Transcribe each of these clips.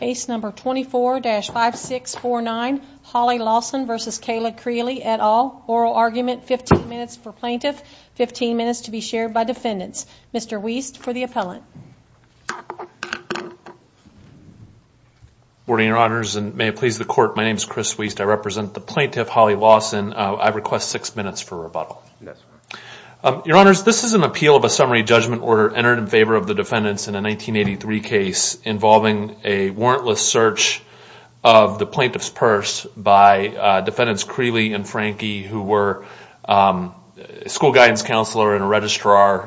Case number 24-5649, Holly Lawson v. Kayla Creely et al. Oral argument, 15 minutes per plaintiff, 15 minutes to be shared by defendants. Mr. Wiest for the appellant. Good morning, Your Honors, and may it please the Court, my name is Chris Wiest. I represent the plaintiff, Holly Lawson. I request six minutes for rebuttal. Yes, sir. Your Honors, this is an appeal of a summary judgment order entered in favor of the defendants in a 1983 case involving a warrantless search of the plaintiff's purse by defendants Creely and Franke, who were school guidance counselors and a registrar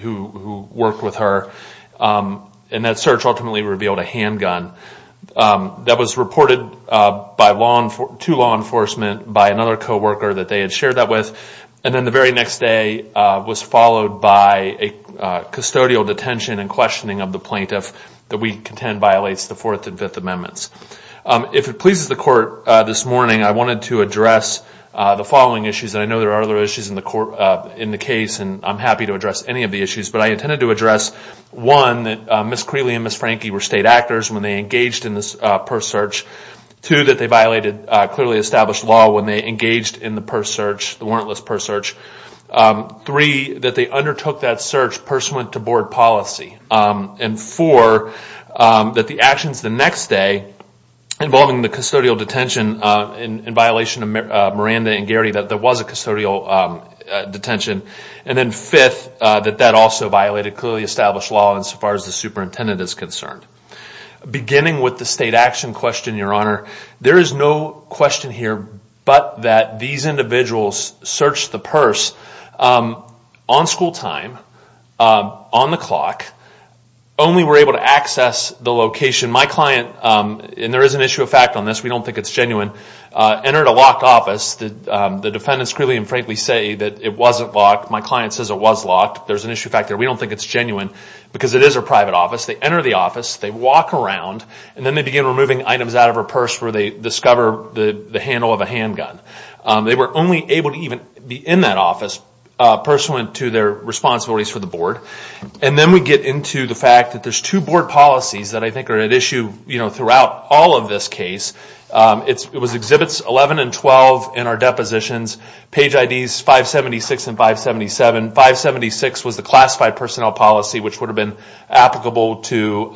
who worked with her. And that search ultimately revealed a handgun that was reported to law enforcement by another co-worker that they had shared that with. And then the very next day was followed by a custodial detention and questioning of the plaintiff that we contend violates the Fourth and Fifth Amendments. If it pleases the Court this morning, I wanted to address the following issues. And I know there are other issues in the case, and I'm happy to address any of the issues. But I intended to address, one, that Ms. Creely and Ms. Franke were state actors when they engaged in this purse search. Two, that they violated clearly established law when they engaged in the purse search, the warrantless purse search. Three, that they undertook that search pursuant to board policy. And four, that the actions the next day involving the custodial detention in violation of Miranda and Garrity, that there was a custodial detention. And then fifth, that that also violated clearly established law as far as the superintendent is concerned. Beginning with the state action question, Your Honor, there is no question here but that these individuals searched the purse on school time, on the clock, only were able to access the location. My client, and there is an issue of fact on this, we don't think it's genuine, entered a locked office. The defendants clearly and frankly say that it wasn't locked. My client says it was locked. There's an issue of fact there. We don't think it's genuine because it is a private office. They enter the office, they walk around, and then they begin removing items out of her purse where they discover the handle of a handgun. They were only able to even be in that office pursuant to their responsibilities for the board. And then we get into the fact that there's two board policies that I think are at issue throughout all of this case. It was Exhibits 11 and 12 in our depositions, Page IDs 576 and 577. 576 was the classified personnel policy which would have been applicable to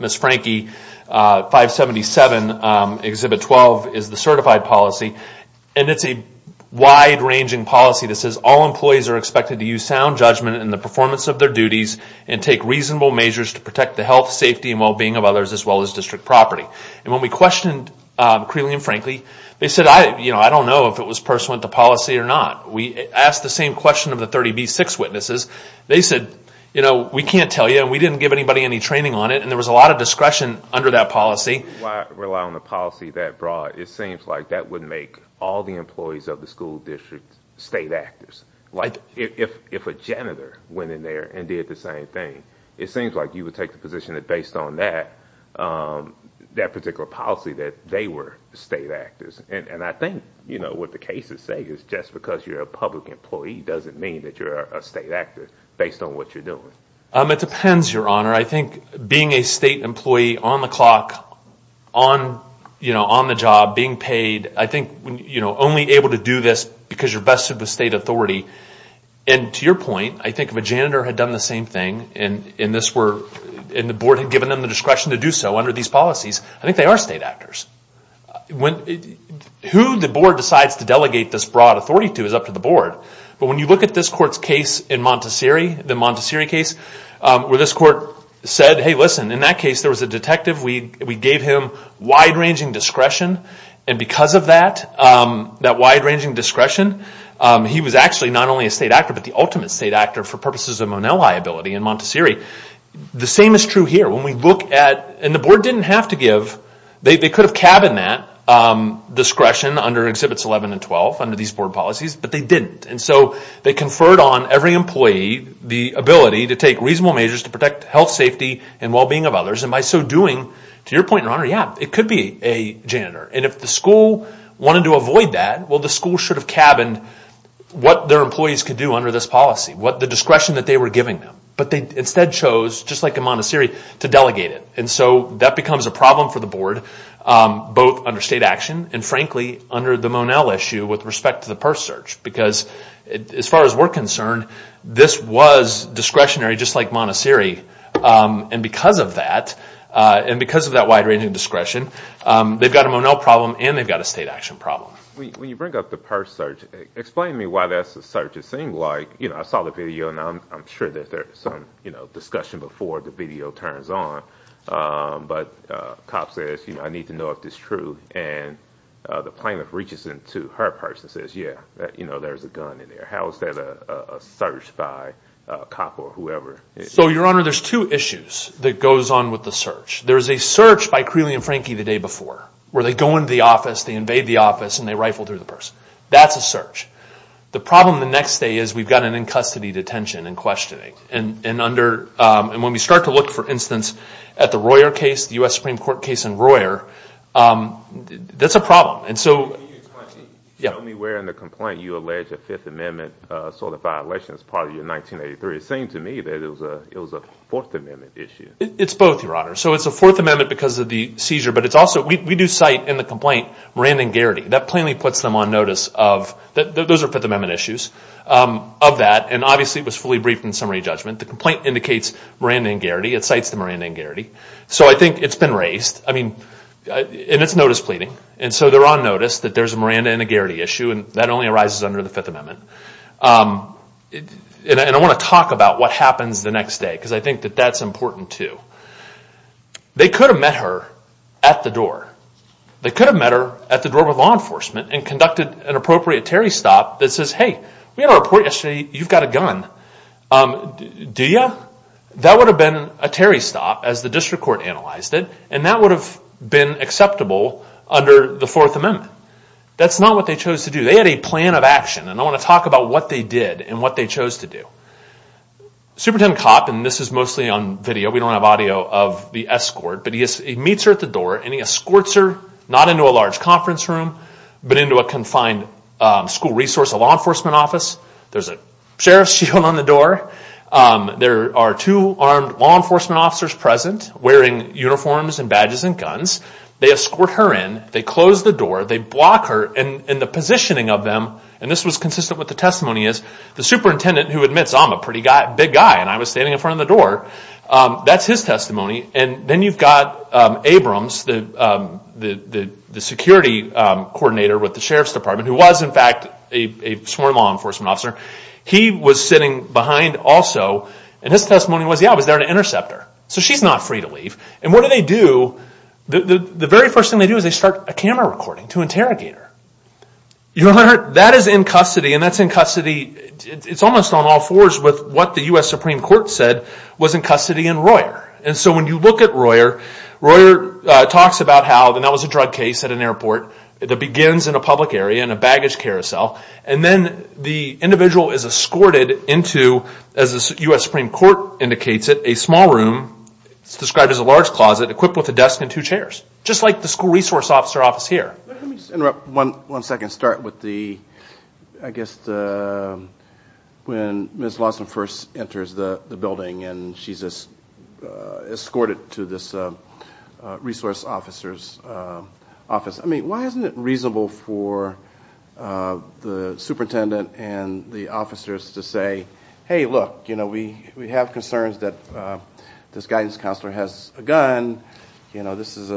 Ms. Frankie. 577, Exhibit 12, is the certified policy. And it's a wide-ranging policy that says all employees are expected to use sound judgment in the performance of their duties and take reasonable measures to protect the health, safety, and well-being of others as well as district property. And when we questioned Creeley and Frankie, they said, I don't know if it was pursuant to policy or not. We asked the same question of the 30B-6 witnesses. They said, you know, we can't tell you and we didn't give anybody any training on it and there was a lot of discretion under that policy. Why rely on a policy that broad? It seems like that would make all the employees of the school district state actors. Like if a janitor went in there and did the same thing, it seems like you would take the position that based on that particular policy that they were state actors. And I think, you know, what the cases say is just because you're a public employee doesn't mean that you're a state actor based on what you're doing. It depends, Your Honor. I think being a state employee on the clock, on the job, being paid, I think only able to do this because you're vested with state authority. And to your point, I think if a janitor had done the same thing and the board had given them the discretion to do so under these policies, I think they are state actors. Who the board decides to delegate this broad authority to is up to the board. But when you look at this court's case in Montessori, the Montessori case, where this court said, hey, listen, in that case there was a detective. We gave him wide-ranging discretion and because of that, that wide-ranging discretion, he was actually not only a state actor but the ultimate state actor for purposes of Monell liability in Montessori. The same is true here. When we look at, and the board didn't have to give, they could have cabined that discretion under Exhibits 11 and 12 under these board policies, but they didn't. And so they conferred on every employee the ability to take reasonable measures to protect health, safety, and well-being of others. And by so doing, to your point, Your Honor, yeah, it could be a janitor. And if the school wanted to avoid that, well, the school should have cabined what their employees could do under this policy, the discretion that they were giving them. But they instead chose, just like in Montessori, to delegate it. And so that becomes a problem for the board, both under state action and frankly under the Monell issue with respect to the purse search. Because as far as we're concerned, this was discretionary just like Montessori. And because of that, and because of that wide-ranging discretion, they've got a Monell problem and they've got a state action problem. When you bring up the purse search, explain to me what that search seemed like. You know, I saw the video, and I'm sure that there's some discussion before the video turns on. But a cop says, you know, I need to know if this is true. And the plaintiff reaches in to her purse and says, yeah, you know, there's a gun in there. How is that a search by a cop or whoever? So Your Honor, there's two issues that goes on with the search. There's a search by Creeley and Frankie the day before, where they go into the office, they invade the office, and they rifle through the purse. That's a search. The problem the next day is we've got an in-custody detention and questioning. And when we start to look, for instance, at the Royer case, the U.S. Supreme Court case in Royer, that's a problem. And so... Can you explain to me, tell me where in the complaint you allege a Fifth Amendment sort of violation as part of your 1983? It seemed to me that it was a Fourth Amendment issue. It's both, Your Honor. So it's a Fourth Amendment because of the seizure, but it's also, we do cite in the complaint, Miranda and Garrity. That plainly puts them on notice of, those are Fifth Amendment issues, of that. And obviously it was fully briefed in summary judgment. The complaint indicates Miranda and Garrity. It cites the Miranda and Garrity. So I think it's been raised. I mean, and it's notice pleading. And so they're on notice that there's a Miranda and a Garrity issue, and that only arises under the Fifth Amendment. And I want to talk about what happens the next day, because I think that that's important too. They could have met her at the door. They could have met her at the door with law enforcement and conducted an appropriate Terry stop that says, hey, we had a report yesterday. You've got a gun. Do you? That would have been a Terry stop as the district court analyzed it, and that would have been acceptable under the Fourth Amendment. That's not what they chose to do. They had a plan of action, and I want to talk about what they did and what they chose to do. Superintendent Copp, and this is mostly on video, we don't have audio of the escort, but he meets her at the door, and he escorts her not into a large conference room, but into a confined school resource, a law enforcement office. There's a sheriff's shield on the door. There are two armed law enforcement officers present wearing uniforms and badges and guns. They escort her in. They close the door. They block her, and the positioning of them, and this was consistent with the testimony is, the superintendent who admits, I'm a pretty big guy, and I was standing in front of the door. That's his testimony. And then you've got Abrams, the security coordinator with the sheriff's department, who was in fact a sworn law enforcement officer. He was sitting behind also, and his testimony was, yeah, I was there to intercept her. So she's not free to leave. And what do they do? The very first thing they do is they start a camera recording to interrogate her. You remember that? That is in custody, and that's in custody, it's almost on all fours with what the U.S. Supreme Court, Royer. Royer talks about how, and that was a drug case at an airport that begins in a public area in a baggage carousel, and then the individual is escorted into, as the U.S. Supreme Court indicates it, a small room. It's described as a large closet equipped with a desk and two chairs, just like the school resource officer office here. Let me just interrupt one second and start with the, I guess the, when Ms. Lawson first enters the building and she's escorted to this resource officer's office, I mean, why isn't it reasonable for the superintendent and the officers to say, hey, look, you know, we have concerns that this guidance counselor has a gun, you know, this is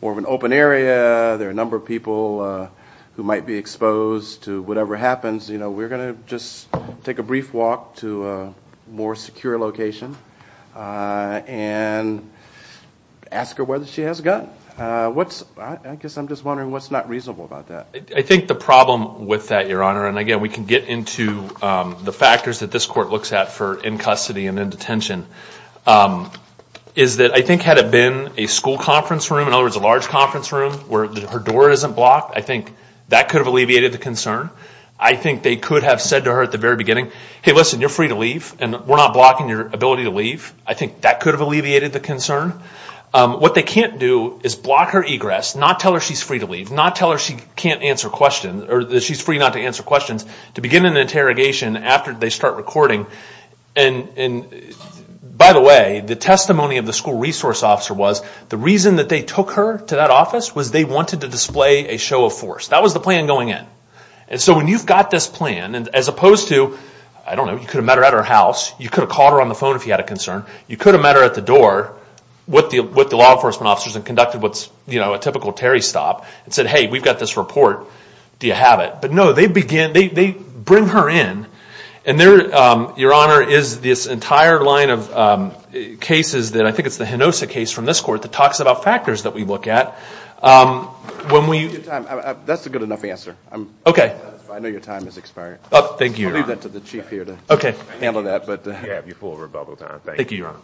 more of an open area, there are a number of people who might be exposed to whatever happens, you know, we're going to just take a brief walk to a more secure location and ask her whether she has a gun. What's, I guess I'm just wondering what's not reasonable about that. I think the problem with that, Your Honor, and again, we can get into the factors that this court looks at for in custody and in detention, is that I think had it been a school conference room, in other words, a large conference room where her door isn't blocked, I think that could have alleviated the concern. I think they could have said to her at the very beginning, hey, listen, you're free to leave and we're not blocking your ability to leave. I think that could have alleviated the concern. What they can't do is block her egress, not tell her she's free to leave, not tell her she can't answer questions or that she's free not to answer questions, to begin an interrogation after they start recording. And by the way, the testimony of the school resource officer was, the reason that they took her to that office, was they wanted to display a show of force. That was the plan going in. And so when you've got this plan, as opposed to, I don't know, you could have met her at her house, you could have called her on the phone if you had a concern, you could have met her at the door with the law enforcement officers and conducted what's, you know, a typical Terry stop and said, hey, we've got this report, do you have it? But no, they bring her in and there, Your Honor, is this entire line of cases that I think it's the Hinosa case from this court that talks about factors that we look at, when we... That's a good enough answer. I know your time is expiring. I'll leave that to the Chief here to handle that, but you have your full rebuttal time. Thank you, Your Honor.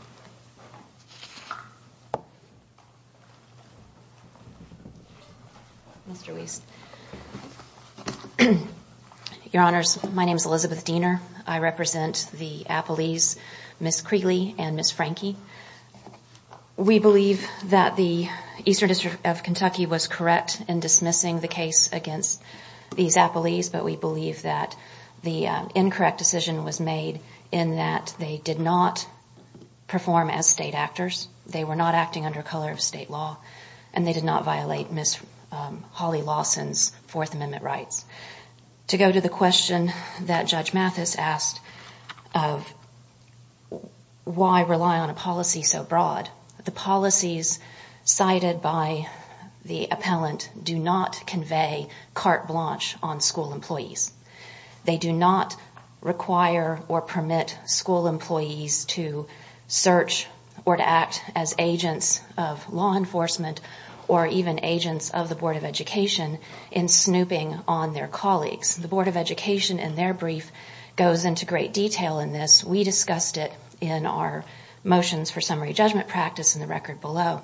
Mr. Weiss. Your Honors, my name is Elizabeth Diener. I represent the Appalese, Ms. Creegly and Ms. Franke. We believe that the Eastern District of Kentucky was correct in dismissing the case against these Appalese, but we believe that the incorrect decision was made in that they did not perform as state actors, they were not acting under color of state law, and they did not violate Ms. Holly Lawson's Fourth Amendment rights. To go to the question that Judge Mathis asked of why rely on a policy so broad, the policies cited by the appellant do not convey carte blanche on school employees. They do not require or permit school employees to search or to act as agents of law enforcement or even agents of the Board of Education in snooping on their colleagues. The Board of Education, in their brief, goes into great detail in this. We discussed it in our motions for summary judgment practice in the record below.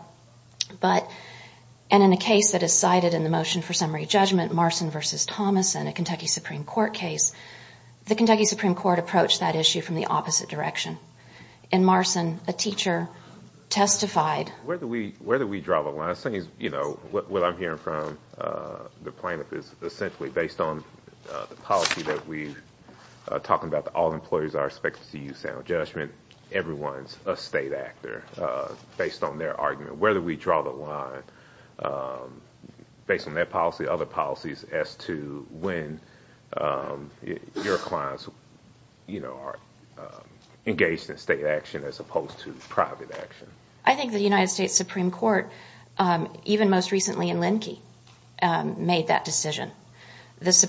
In a case that is cited in the motion for summary judgment, Marson v. Thomason, a Kentucky Supreme Court case, the Kentucky Supreme Court approached that issue from the opposite direction. In Marson, a teacher testified... Where do we draw the line? What I'm hearing from the plaintiff is essentially based on the policy that we're talking about, all employees are expected to use sound judgment, everyone is a state actor, based on their argument. Where do we draw the line based on that policy, other policies, as to when your clients are engaged in state action as opposed to private action? I think the United States Supreme Court, even most recently in Linkey, made that decision. The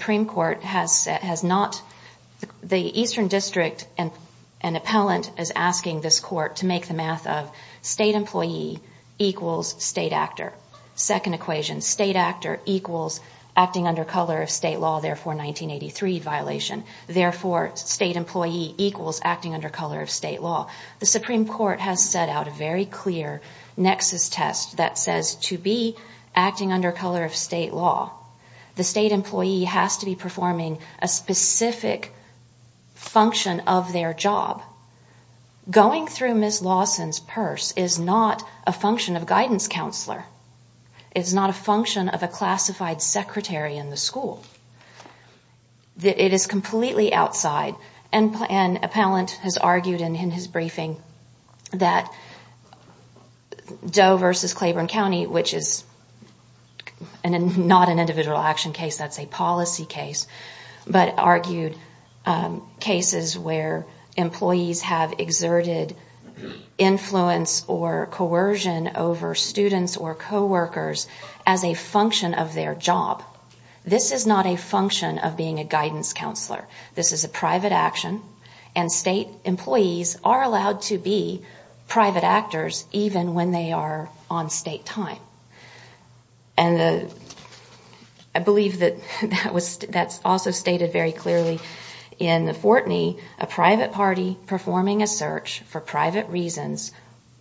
Eastern District, an appellant, is asking this court to make the math of state employee equals state actor. Second equation, state actor equals acting under color of state law, therefore 1983 violation. Therefore, state employee equals acting under color of state law. The Supreme Court has set out a very clear nexus test that says to be acting under color of state law, the state employee has to be performing a specific function of their job. Going through Ms. Lawson's purse is not a function of guidance counselor. It's not a function of a classified secretary in the school. It is completely outside, and an appellant has argued in his briefing that Doe versus Claiborne County, which is not an individual action case, that's a policy case, but argued cases where employees have exerted influence or coercion over students or coworkers as a function of their job. This is not a function of being a guidance counselor. This is a private action, and state employees are allowed to be private actors even when they are on state time. I believe that that's also stated very clearly in the Fortney, a private party performing a search for private reasons,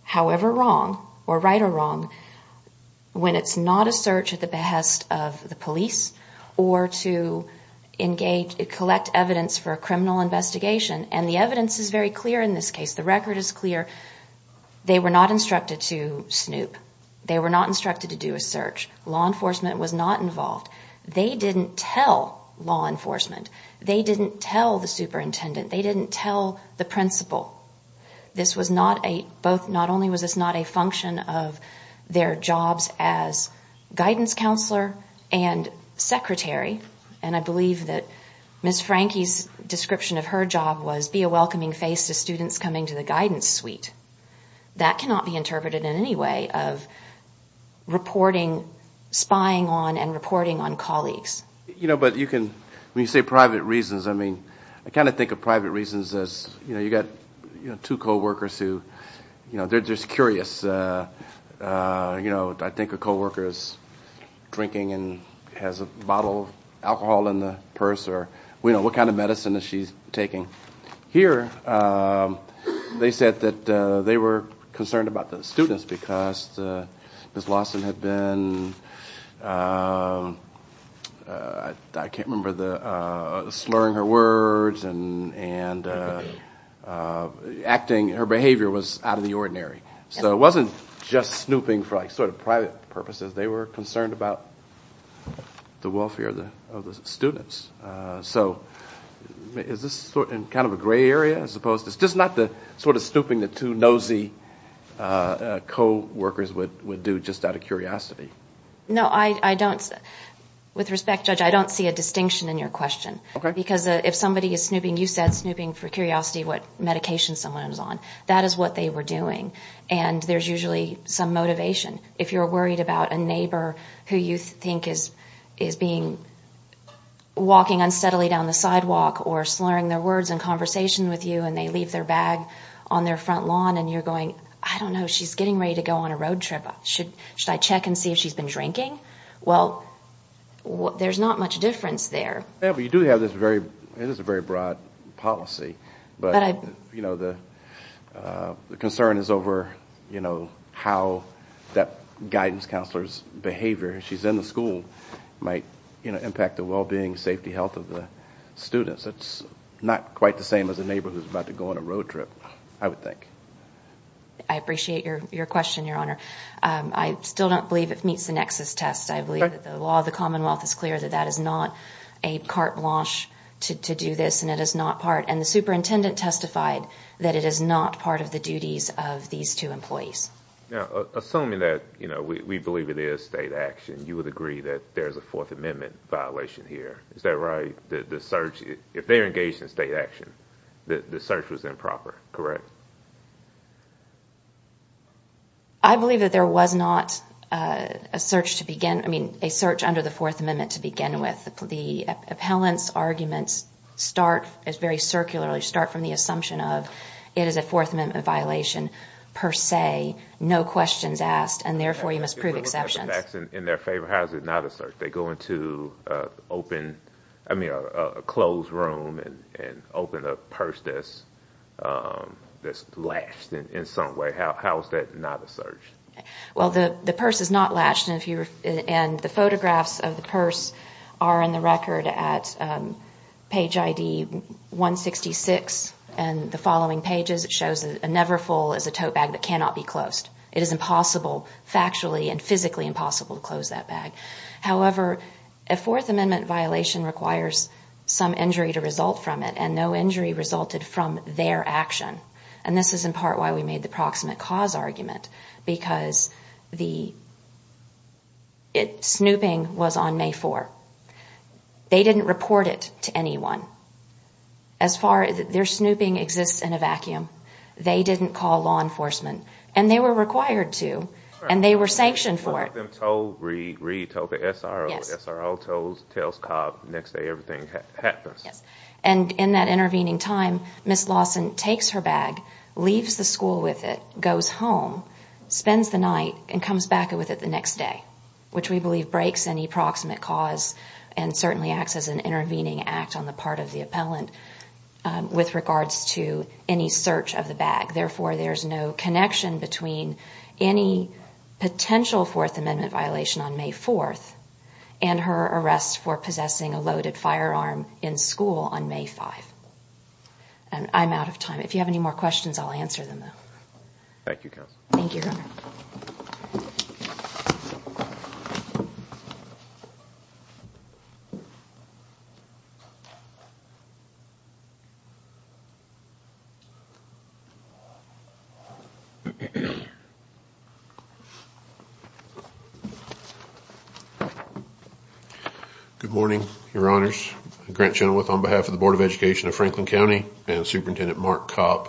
however wrong or right or wrong, when it's not a search at the behest of the police or to collect evidence for a criminal investigation. The evidence is very clear in this case. The record is clear. They were not instructed to snoop. They were not instructed to do a search. Law enforcement was not involved. They didn't tell law enforcement. They didn't tell the superintendent. They didn't tell the principal. Not only was this not a function of their jobs as guidance counselor and secretary, and I believe that Ms. Franke's description of her job was be a welcoming face to students coming to the guidance suite. That cannot be interpreted in any way of reporting, spying on, and reporting on colleagues. But you can, when you say private reasons, I mean, I kind of think of private reasons as you've got two co-workers who, they're just curious. I think a co-worker is drinking and has a bottle of alcohol in the purse, or what kind of medicine is she taking. Here, they said that they were concerned about the students because Ms. Lawson had been a student and I can't remember the, slurring her words and acting, her behavior was out of the ordinary. So it wasn't just snooping for like sort of private purposes. They were concerned about the welfare of the students. So is this sort of in kind of a gray area, as opposed to, it's just not the sort of snooping that two nosy co-workers would do just out of curiosity. No I don't, with respect Judge, I don't see a distinction in your question. Because if somebody is snooping, you said snooping for curiosity, what medication someone is on. That is what they were doing. And there's usually some motivation. If you're worried about a neighbor who you think is being, walking unsteadily down the sidewalk or slurring their words in conversation with you and they leave their bag on their front lawn and you're going, I don't know, she's getting ready to go on a road trip. Should I check and see if she's been drinking? Well, there's not much difference there. Yeah, but you do have this very, it is a very broad policy. But, you know, the concern is over, you know, how that guidance counselor's behavior, she's in the school, might impact the well-being, safety, health of the students. It's not quite the same as a neighbor who's about to go on a road trip, I would think. I appreciate your question, your honor. I still don't believe it meets the nexus test. I believe that the law of the commonwealth is clear that that is not a carte blanche to do this and it is not part, and the superintendent testified that it is not part of the duties of these two employees. Now, assuming that, you know, we believe it is state action, you would agree that there's a fourth amendment violation here. Is that right? The search, if they're engaged in state action, the search was improper, correct? I believe that there was not a search to begin, I mean, a search under the fourth amendment to begin with. The appellant's arguments start as very circular, they start from the assumption of it is a fourth amendment violation per se, no questions asked, and therefore you must prove exceptions. In their favor, how is it not a search? They go into an open, I mean, a closed room and open a purse that's latched in some way. How is that not a search? Well, the purse is not latched, and the photographs of the purse are in the record at page ID 166, and the following pages it shows a Neverfull is a tote bag that cannot be closed. It is impossible, factually and physically impossible to close that bag. However, a fourth amendment violation requires some injury to result from it, and no injury resulted from their action. And this is in part why we made the proximate cause argument, because the snooping was on May 4. They didn't report it to anyone. As far as, their snooping exists in a vacuum. They didn't call law enforcement, and they were required to, and they were sanctioned for it. So they told Reed, told the SRO, SRO tells Cobb the next day everything happens. Yes, and in that intervening time, Ms. Lawson takes her bag, leaves the school with it, goes home, spends the night, and comes back with it the next day, which we believe breaks any proximate cause and certainly acts as an intervening act on the part of the appellant with regards to any search of the bag. Therefore, there's no connection between any potential fourth amendment violation on May 4, and her arrest for possessing a loaded firearm in school on May 5. And I'm out of time. If you have any more questions, I'll answer them. Good morning, your honors. Grant Chenoweth on behalf of the Board of Education of Franklin County and Superintendent Mark Cobb.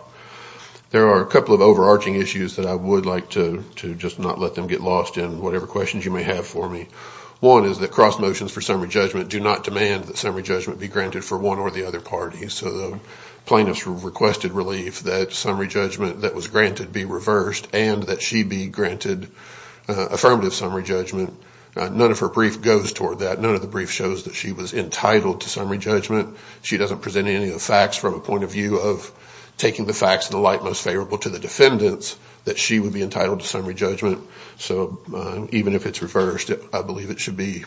There are a couple of overarching issues that I would like to just not let them get lost in, whatever questions you may have for me. One is that cross motions for summary judgment do not demand that summary judgment be granted for one or the other party. So the plaintiffs requested relief that summary judgment that was granted be reversed and that she be granted affirmative summary judgment. None of her brief goes toward that. None of the brief shows that she was entitled to summary judgment. She doesn't present any of the facts from a point of view of taking the facts in the light most favorable to the defendants that she would be entitled to summary judgment. So even if it's reversed, I believe it should be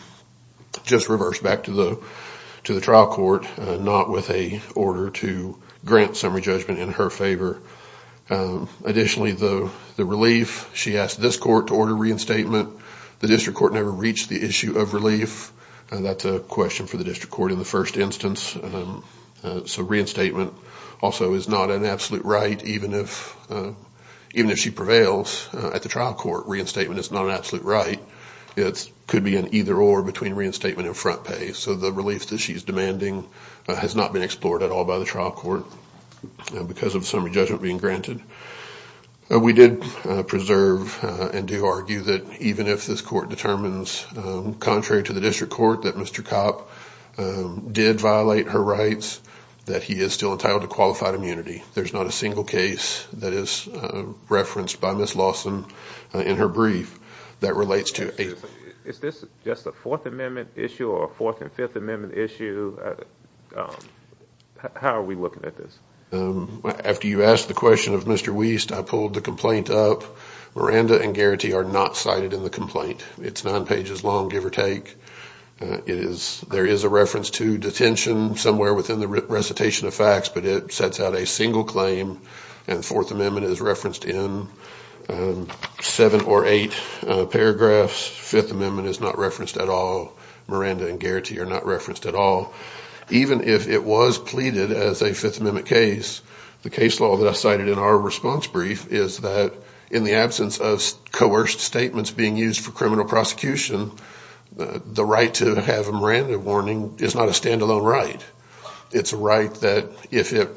just reversed back to the trial court, not with a order to grant summary judgment in her favor. Additionally, the relief, she asked this court to order reinstatement. The district court never reached the issue of relief. That's a question for the district court in the first instance. So reinstatement also is not an absolute right, even if she prevails at the door between reinstatement and front pay. So the relief that she's demanding has not been explored at all by the trial court because of summary judgment being granted. We did preserve and do argue that even if this court determines, contrary to the district court, that Mr. Copp did violate her rights, that he is still entitled to qualified immunity. There's not a single case that is referenced by Ms. Lawson in her brief that relates to a... Is this just a Fourth Amendment issue or a Fourth and Fifth Amendment issue? How are we looking at this? After you asked the question of Mr. Wiest, I pulled the complaint up. Miranda and Garrity are not cited in the complaint. It's nine pages long, give or take. There is a reference to detention somewhere within the recitation of facts, but it sets out a single claim and the Fourth Amendment is referenced in seven or eight paragraphs. Fifth Amendment is not referenced at all. Miranda and Garrity are not referenced at all. Even if it was pleaded as a Fifth Amendment case, the case law that I cited in our response brief is that in the absence of coerced statements being used for criminal prosecution, the right to have a standalone right. It's a right that if it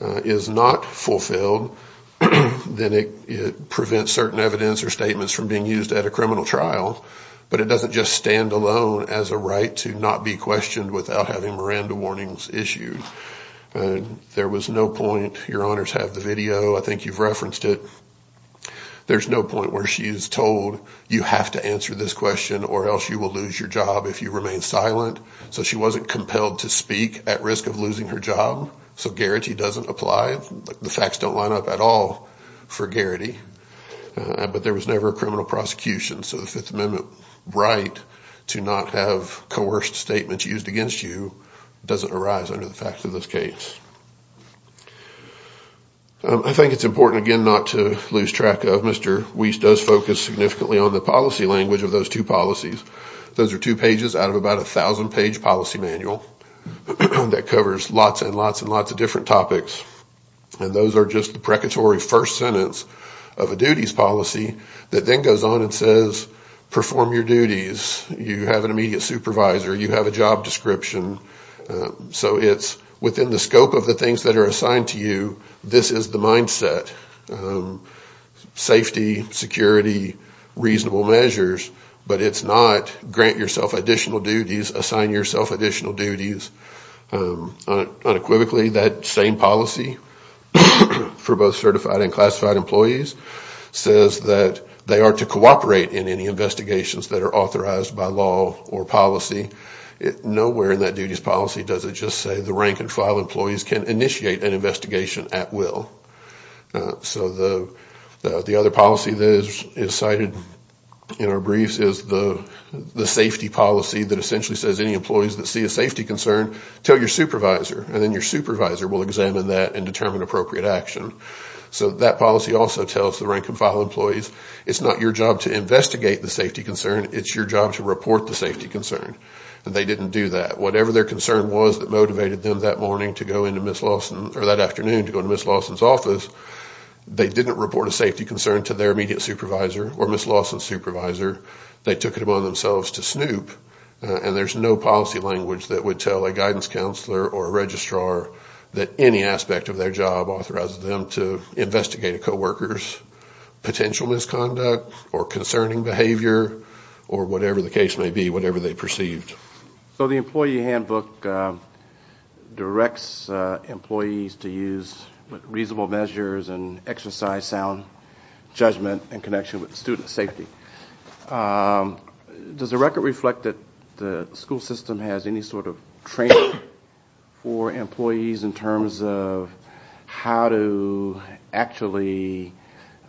is not fulfilled, then it prevents certain evidence or statements from being used at a criminal trial, but it doesn't just stand alone as a right to not be questioned without having Miranda warnings issued. There was no point... Your honors have the video. I think you've referenced it. There's no point where she is told, you have to answer this question or else you will lose your job if you remain silent, so she wasn't compelled to speak at risk of losing her job, so Garrity doesn't apply. The facts don't line up at all for Garrity, but there was never a criminal prosecution, so the Fifth Amendment right to not have coerced statements used against you doesn't arise under the facts of this case. I think it's important, again, not to lose track of. Mr. Weiss does focus significantly on the policy language of those two policies. Those are two pages out of about a thousand-page policy manual that covers lots and lots and lots of different topics, and those are just the precatory first sentence of a duties policy that then goes on and says, perform your duties. You have an immediate supervisor. You have a job description, so it's within the scope of the things that are assigned to you. This is the mindset, safety, security, reasonable measures, but it's not grant yourself additional duties, assign yourself additional duties. Unequivocally, that same policy for both certified and classified employees says that they are to cooperate in any investigations that are authorized by law or policy. Nowhere in that duties policy does it just say the rank and file employees can initiate an investigation at will. The other policy that is cited in our briefs is the safety policy that essentially says any employees that see a safety concern, tell your supervisor, and then your supervisor will examine that and determine appropriate action. That policy also tells the rank and file employees, it's not your job to investigate the safety concern. It's your job to report the safety concern. They didn't do that. Whatever their concern was that motivated them that morning to go into Ms. Lawson, or that afternoon to go into Ms. Lawson's office, they didn't report a safety concern to their immediate supervisor or Ms. Lawson's supervisor. They took it upon themselves to snoop, and there's no policy language that would tell a guidance counselor or a registrar that any aspect of their job authorizes them to investigate a co-worker's potential misconduct or concerning behavior or whatever the case may be, whatever they perceived. So the employee handbook directs employees to use reasonable measures and exercise sound judgment in connection with student safety. Does the record reflect that the school system has any sort of training for employees in terms of how to actually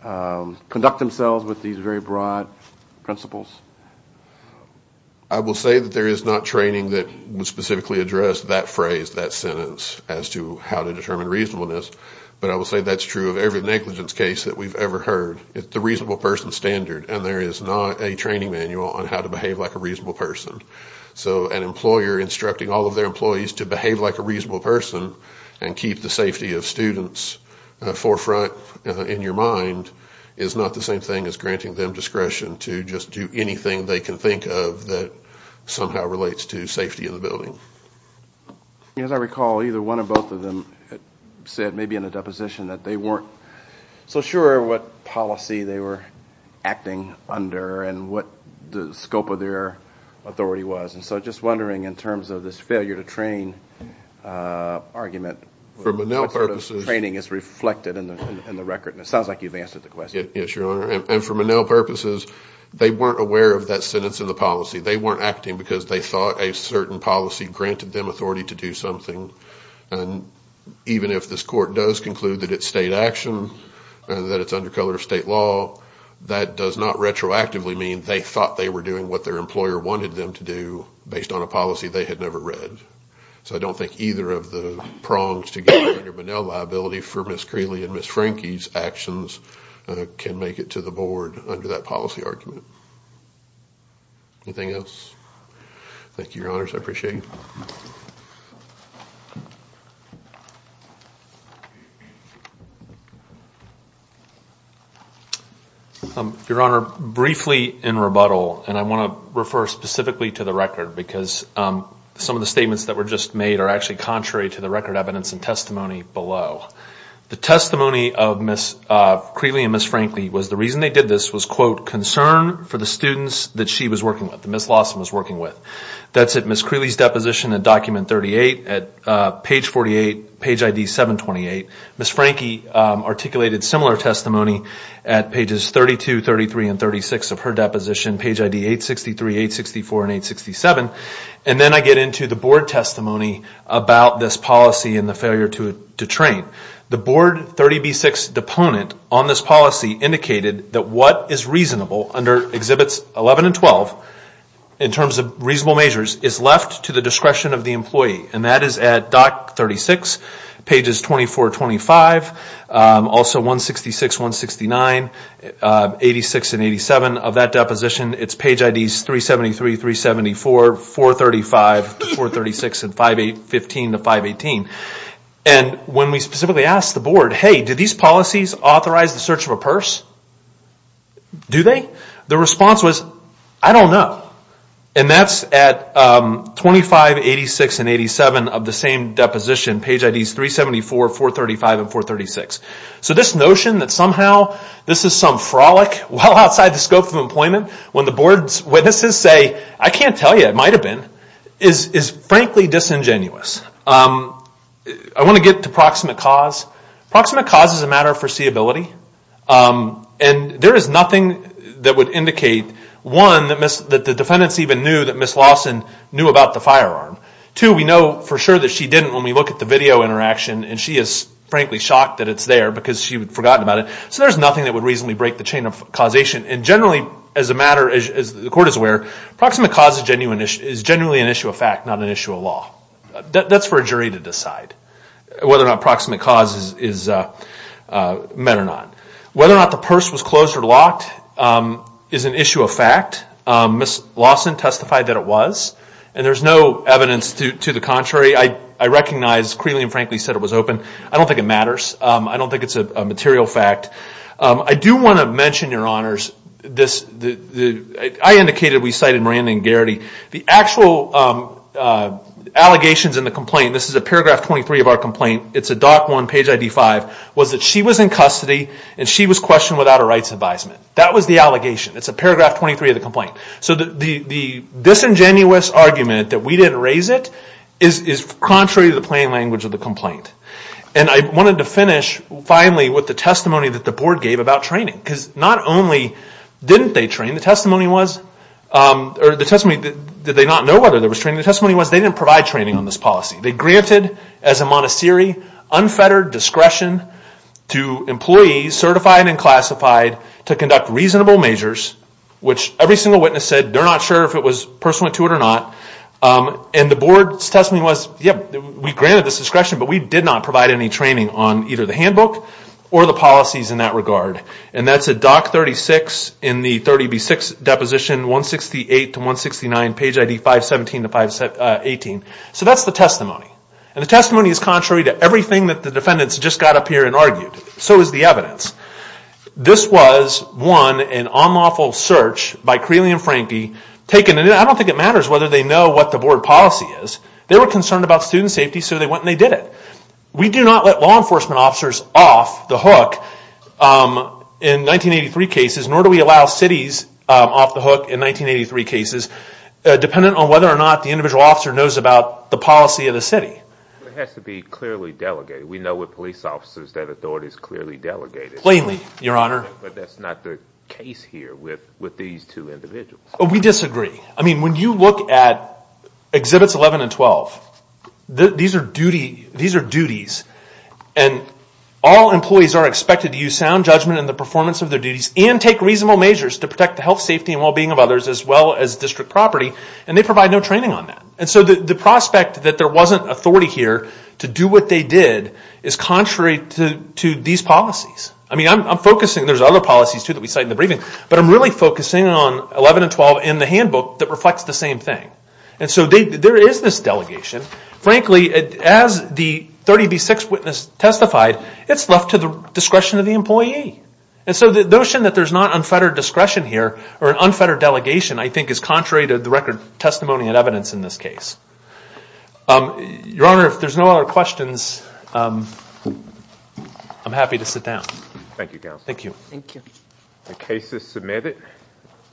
conduct themselves with these very broad principles? I will say that there is not training that would specifically address that phrase, that sentence as to how to determine reasonableness, but I will say that's true of every negligence case that we've ever heard. It's the reasonable person standard, and there is not a training manual on how to behave like a reasonable person. So an employer instructing all of their employees to behave like a reasonable person and keep the safety of students forefront in your mind is not the same thing as granting them discretion to just do anything they can think of that somehow relates to safety in the building. As I recall, either one or both of them said, maybe in a deposition, that they weren't so sure what policy they were acting under and what the scope of their authority was. So just wondering in terms of this failure to train argument, what sort of training is reflected in the record? And it sounds like you've answered the question. Yes, Your Honor. And for Monell purposes, they weren't aware of that sentence in the policy. They weren't acting because they thought a certain policy granted them authority to do something. And even if this court does conclude that it's state action and that it's under color of state law, that does not retroactively mean they thought they were doing what their employer wanted them to do based on a policy they had never read. So I don't think either of the prongs to get Monell liability for Ms. Creeley and Ms. Franke's actions can make it to the board under that policy argument. Anything else? Thank you, Your Honors. I appreciate it. Your Honor, briefly in rebuttal, and I want to refer specifically to the record because some of the statements that were just made are actually contrary to the record evidence and testimony below. The testimony of Ms. Creeley and Ms. Franke was the reason they did this was, quote, concern for the students that she was working with, that Ms. Lawson was working with. That's at Ms. Creeley's deposition at document 38 at page 48, page ID 728. Ms. Franke articulated similar testimony at pages 32, 33, and 36 of her deposition, page ID 863, 864, and 867. And then I get into the board testimony about this policy and the failure to train. The board 30B6 deponent on this policy indicated that what is reasonable under Exhibits 11 and 12, in terms of reasonable measures, is left to the discretion of the employee. And that is at doc 36, pages 24, 25, also 166, 169, 86, and 87 of that deposition. It's page IDs 373, 374, 435, 36, and 38. And when we specifically asked the board, hey, do these policies authorize the search of a purse? Do they? The response was, I don't know. And that's at 25, 86, and 87 of the same deposition, page IDs 374, 435, and 436. So this notion that somehow this is some frolic well outside the scope of employment, when the board's witnesses say, I can't tell you what it might have been, is frankly disingenuous. I want to get to proximate cause. Proximate cause is a matter of foreseeability. And there is nothing that would indicate, one, that the defendants even knew that Ms. Lawson knew about the firearm. Two, we know for sure that she didn't when we look at the video interaction. And she is frankly shocked that it's there because she had forgotten about it. So there's nothing that would reasonably break the chain of causation. And generally, as a matter, as the court is aware, proximate cause is generally an issue of fact, not an issue of law. That's for a jury to decide whether or not proximate cause is met or not. Whether or not the purse was closed or locked is an issue of fact. Ms. Lawson testified that it was. And there's no evidence to the contrary. I recognize Creeley and Franklin said it was open. I don't think it matters. I don't think it's a material fact. I do want to mention, Your Honors, I indicated we cited Miranda and Garrity. The actual allegations in the complaint, this is a paragraph 23 of our complaint, it's a DOC 1 page ID 5, was that she was in custody and she was questioned without a rights advisement. That was the allegation. It's a paragraph 23 of the complaint. So the disingenuous argument that we didn't raise it is contrary to the plain language of the complaint. And I wanted to finish, finally, with the testimony that the board gave about training. Because not only didn't they train, the testimony was, or the testimony that they did not know whether there was training, the testimony was they didn't provide training on this policy. They granted, as a Montessori, unfettered discretion to employees, certified and classified, to conduct reasonable measures, which every single witness said they're not sure if it was pursuant to it or not. And the board's testimony was, yep, we granted this discretion but we did not provide any training on either the handbook or the policies in that regard. And that's a DOC 36 in the 30B6 deposition, 168 to 169, page ID 517 to 518. So that's the testimony. And the testimony is contrary to everything that the defendants just got up here and argued. So is the evidence. This was, one, an unlawful search by Creeley and Franke taken, and I don't think it matters whether they know what the board policy is. They were concerned about student safety so they went and they did it. We do not let law enforcement officers off the hook in 1983 cases, nor do we allow cities off the hook in 1983 cases, dependent on whether or not the individual officer knows about the policy of the city. But it has to be clearly delegated. We know with police officers that authorities clearly delegate it. Plainly, your honor. But that's not the case here with these two individuals. We disagree. I mean, when you look at exhibits 11 and 12, these are duties. And all employees are expected to use sound judgment in the performance of their duties and take reasonable measures to protect the health, safety, and well-being of others as well as district property. And they provide no training on that. And so the prospect that there wasn't authority here to do what they did is contrary to these policies. I mean, I'm focusing, there's other policies too that we cite in the briefing, but I'm really focusing on 11 and 12 in the handbook that reflects the same thing. And so there is this delegation. Frankly, as the 30B6 witness testified, it's left to the discretion of the employee. And so the notion that there's not unfettered discretion here or an unfettered delegation I think is contrary to the record, testimony, and evidence in this case. Your honor, if there's no other questions, I'm happy to sit down. Thank you, counsel. Thank you. The case is submitted.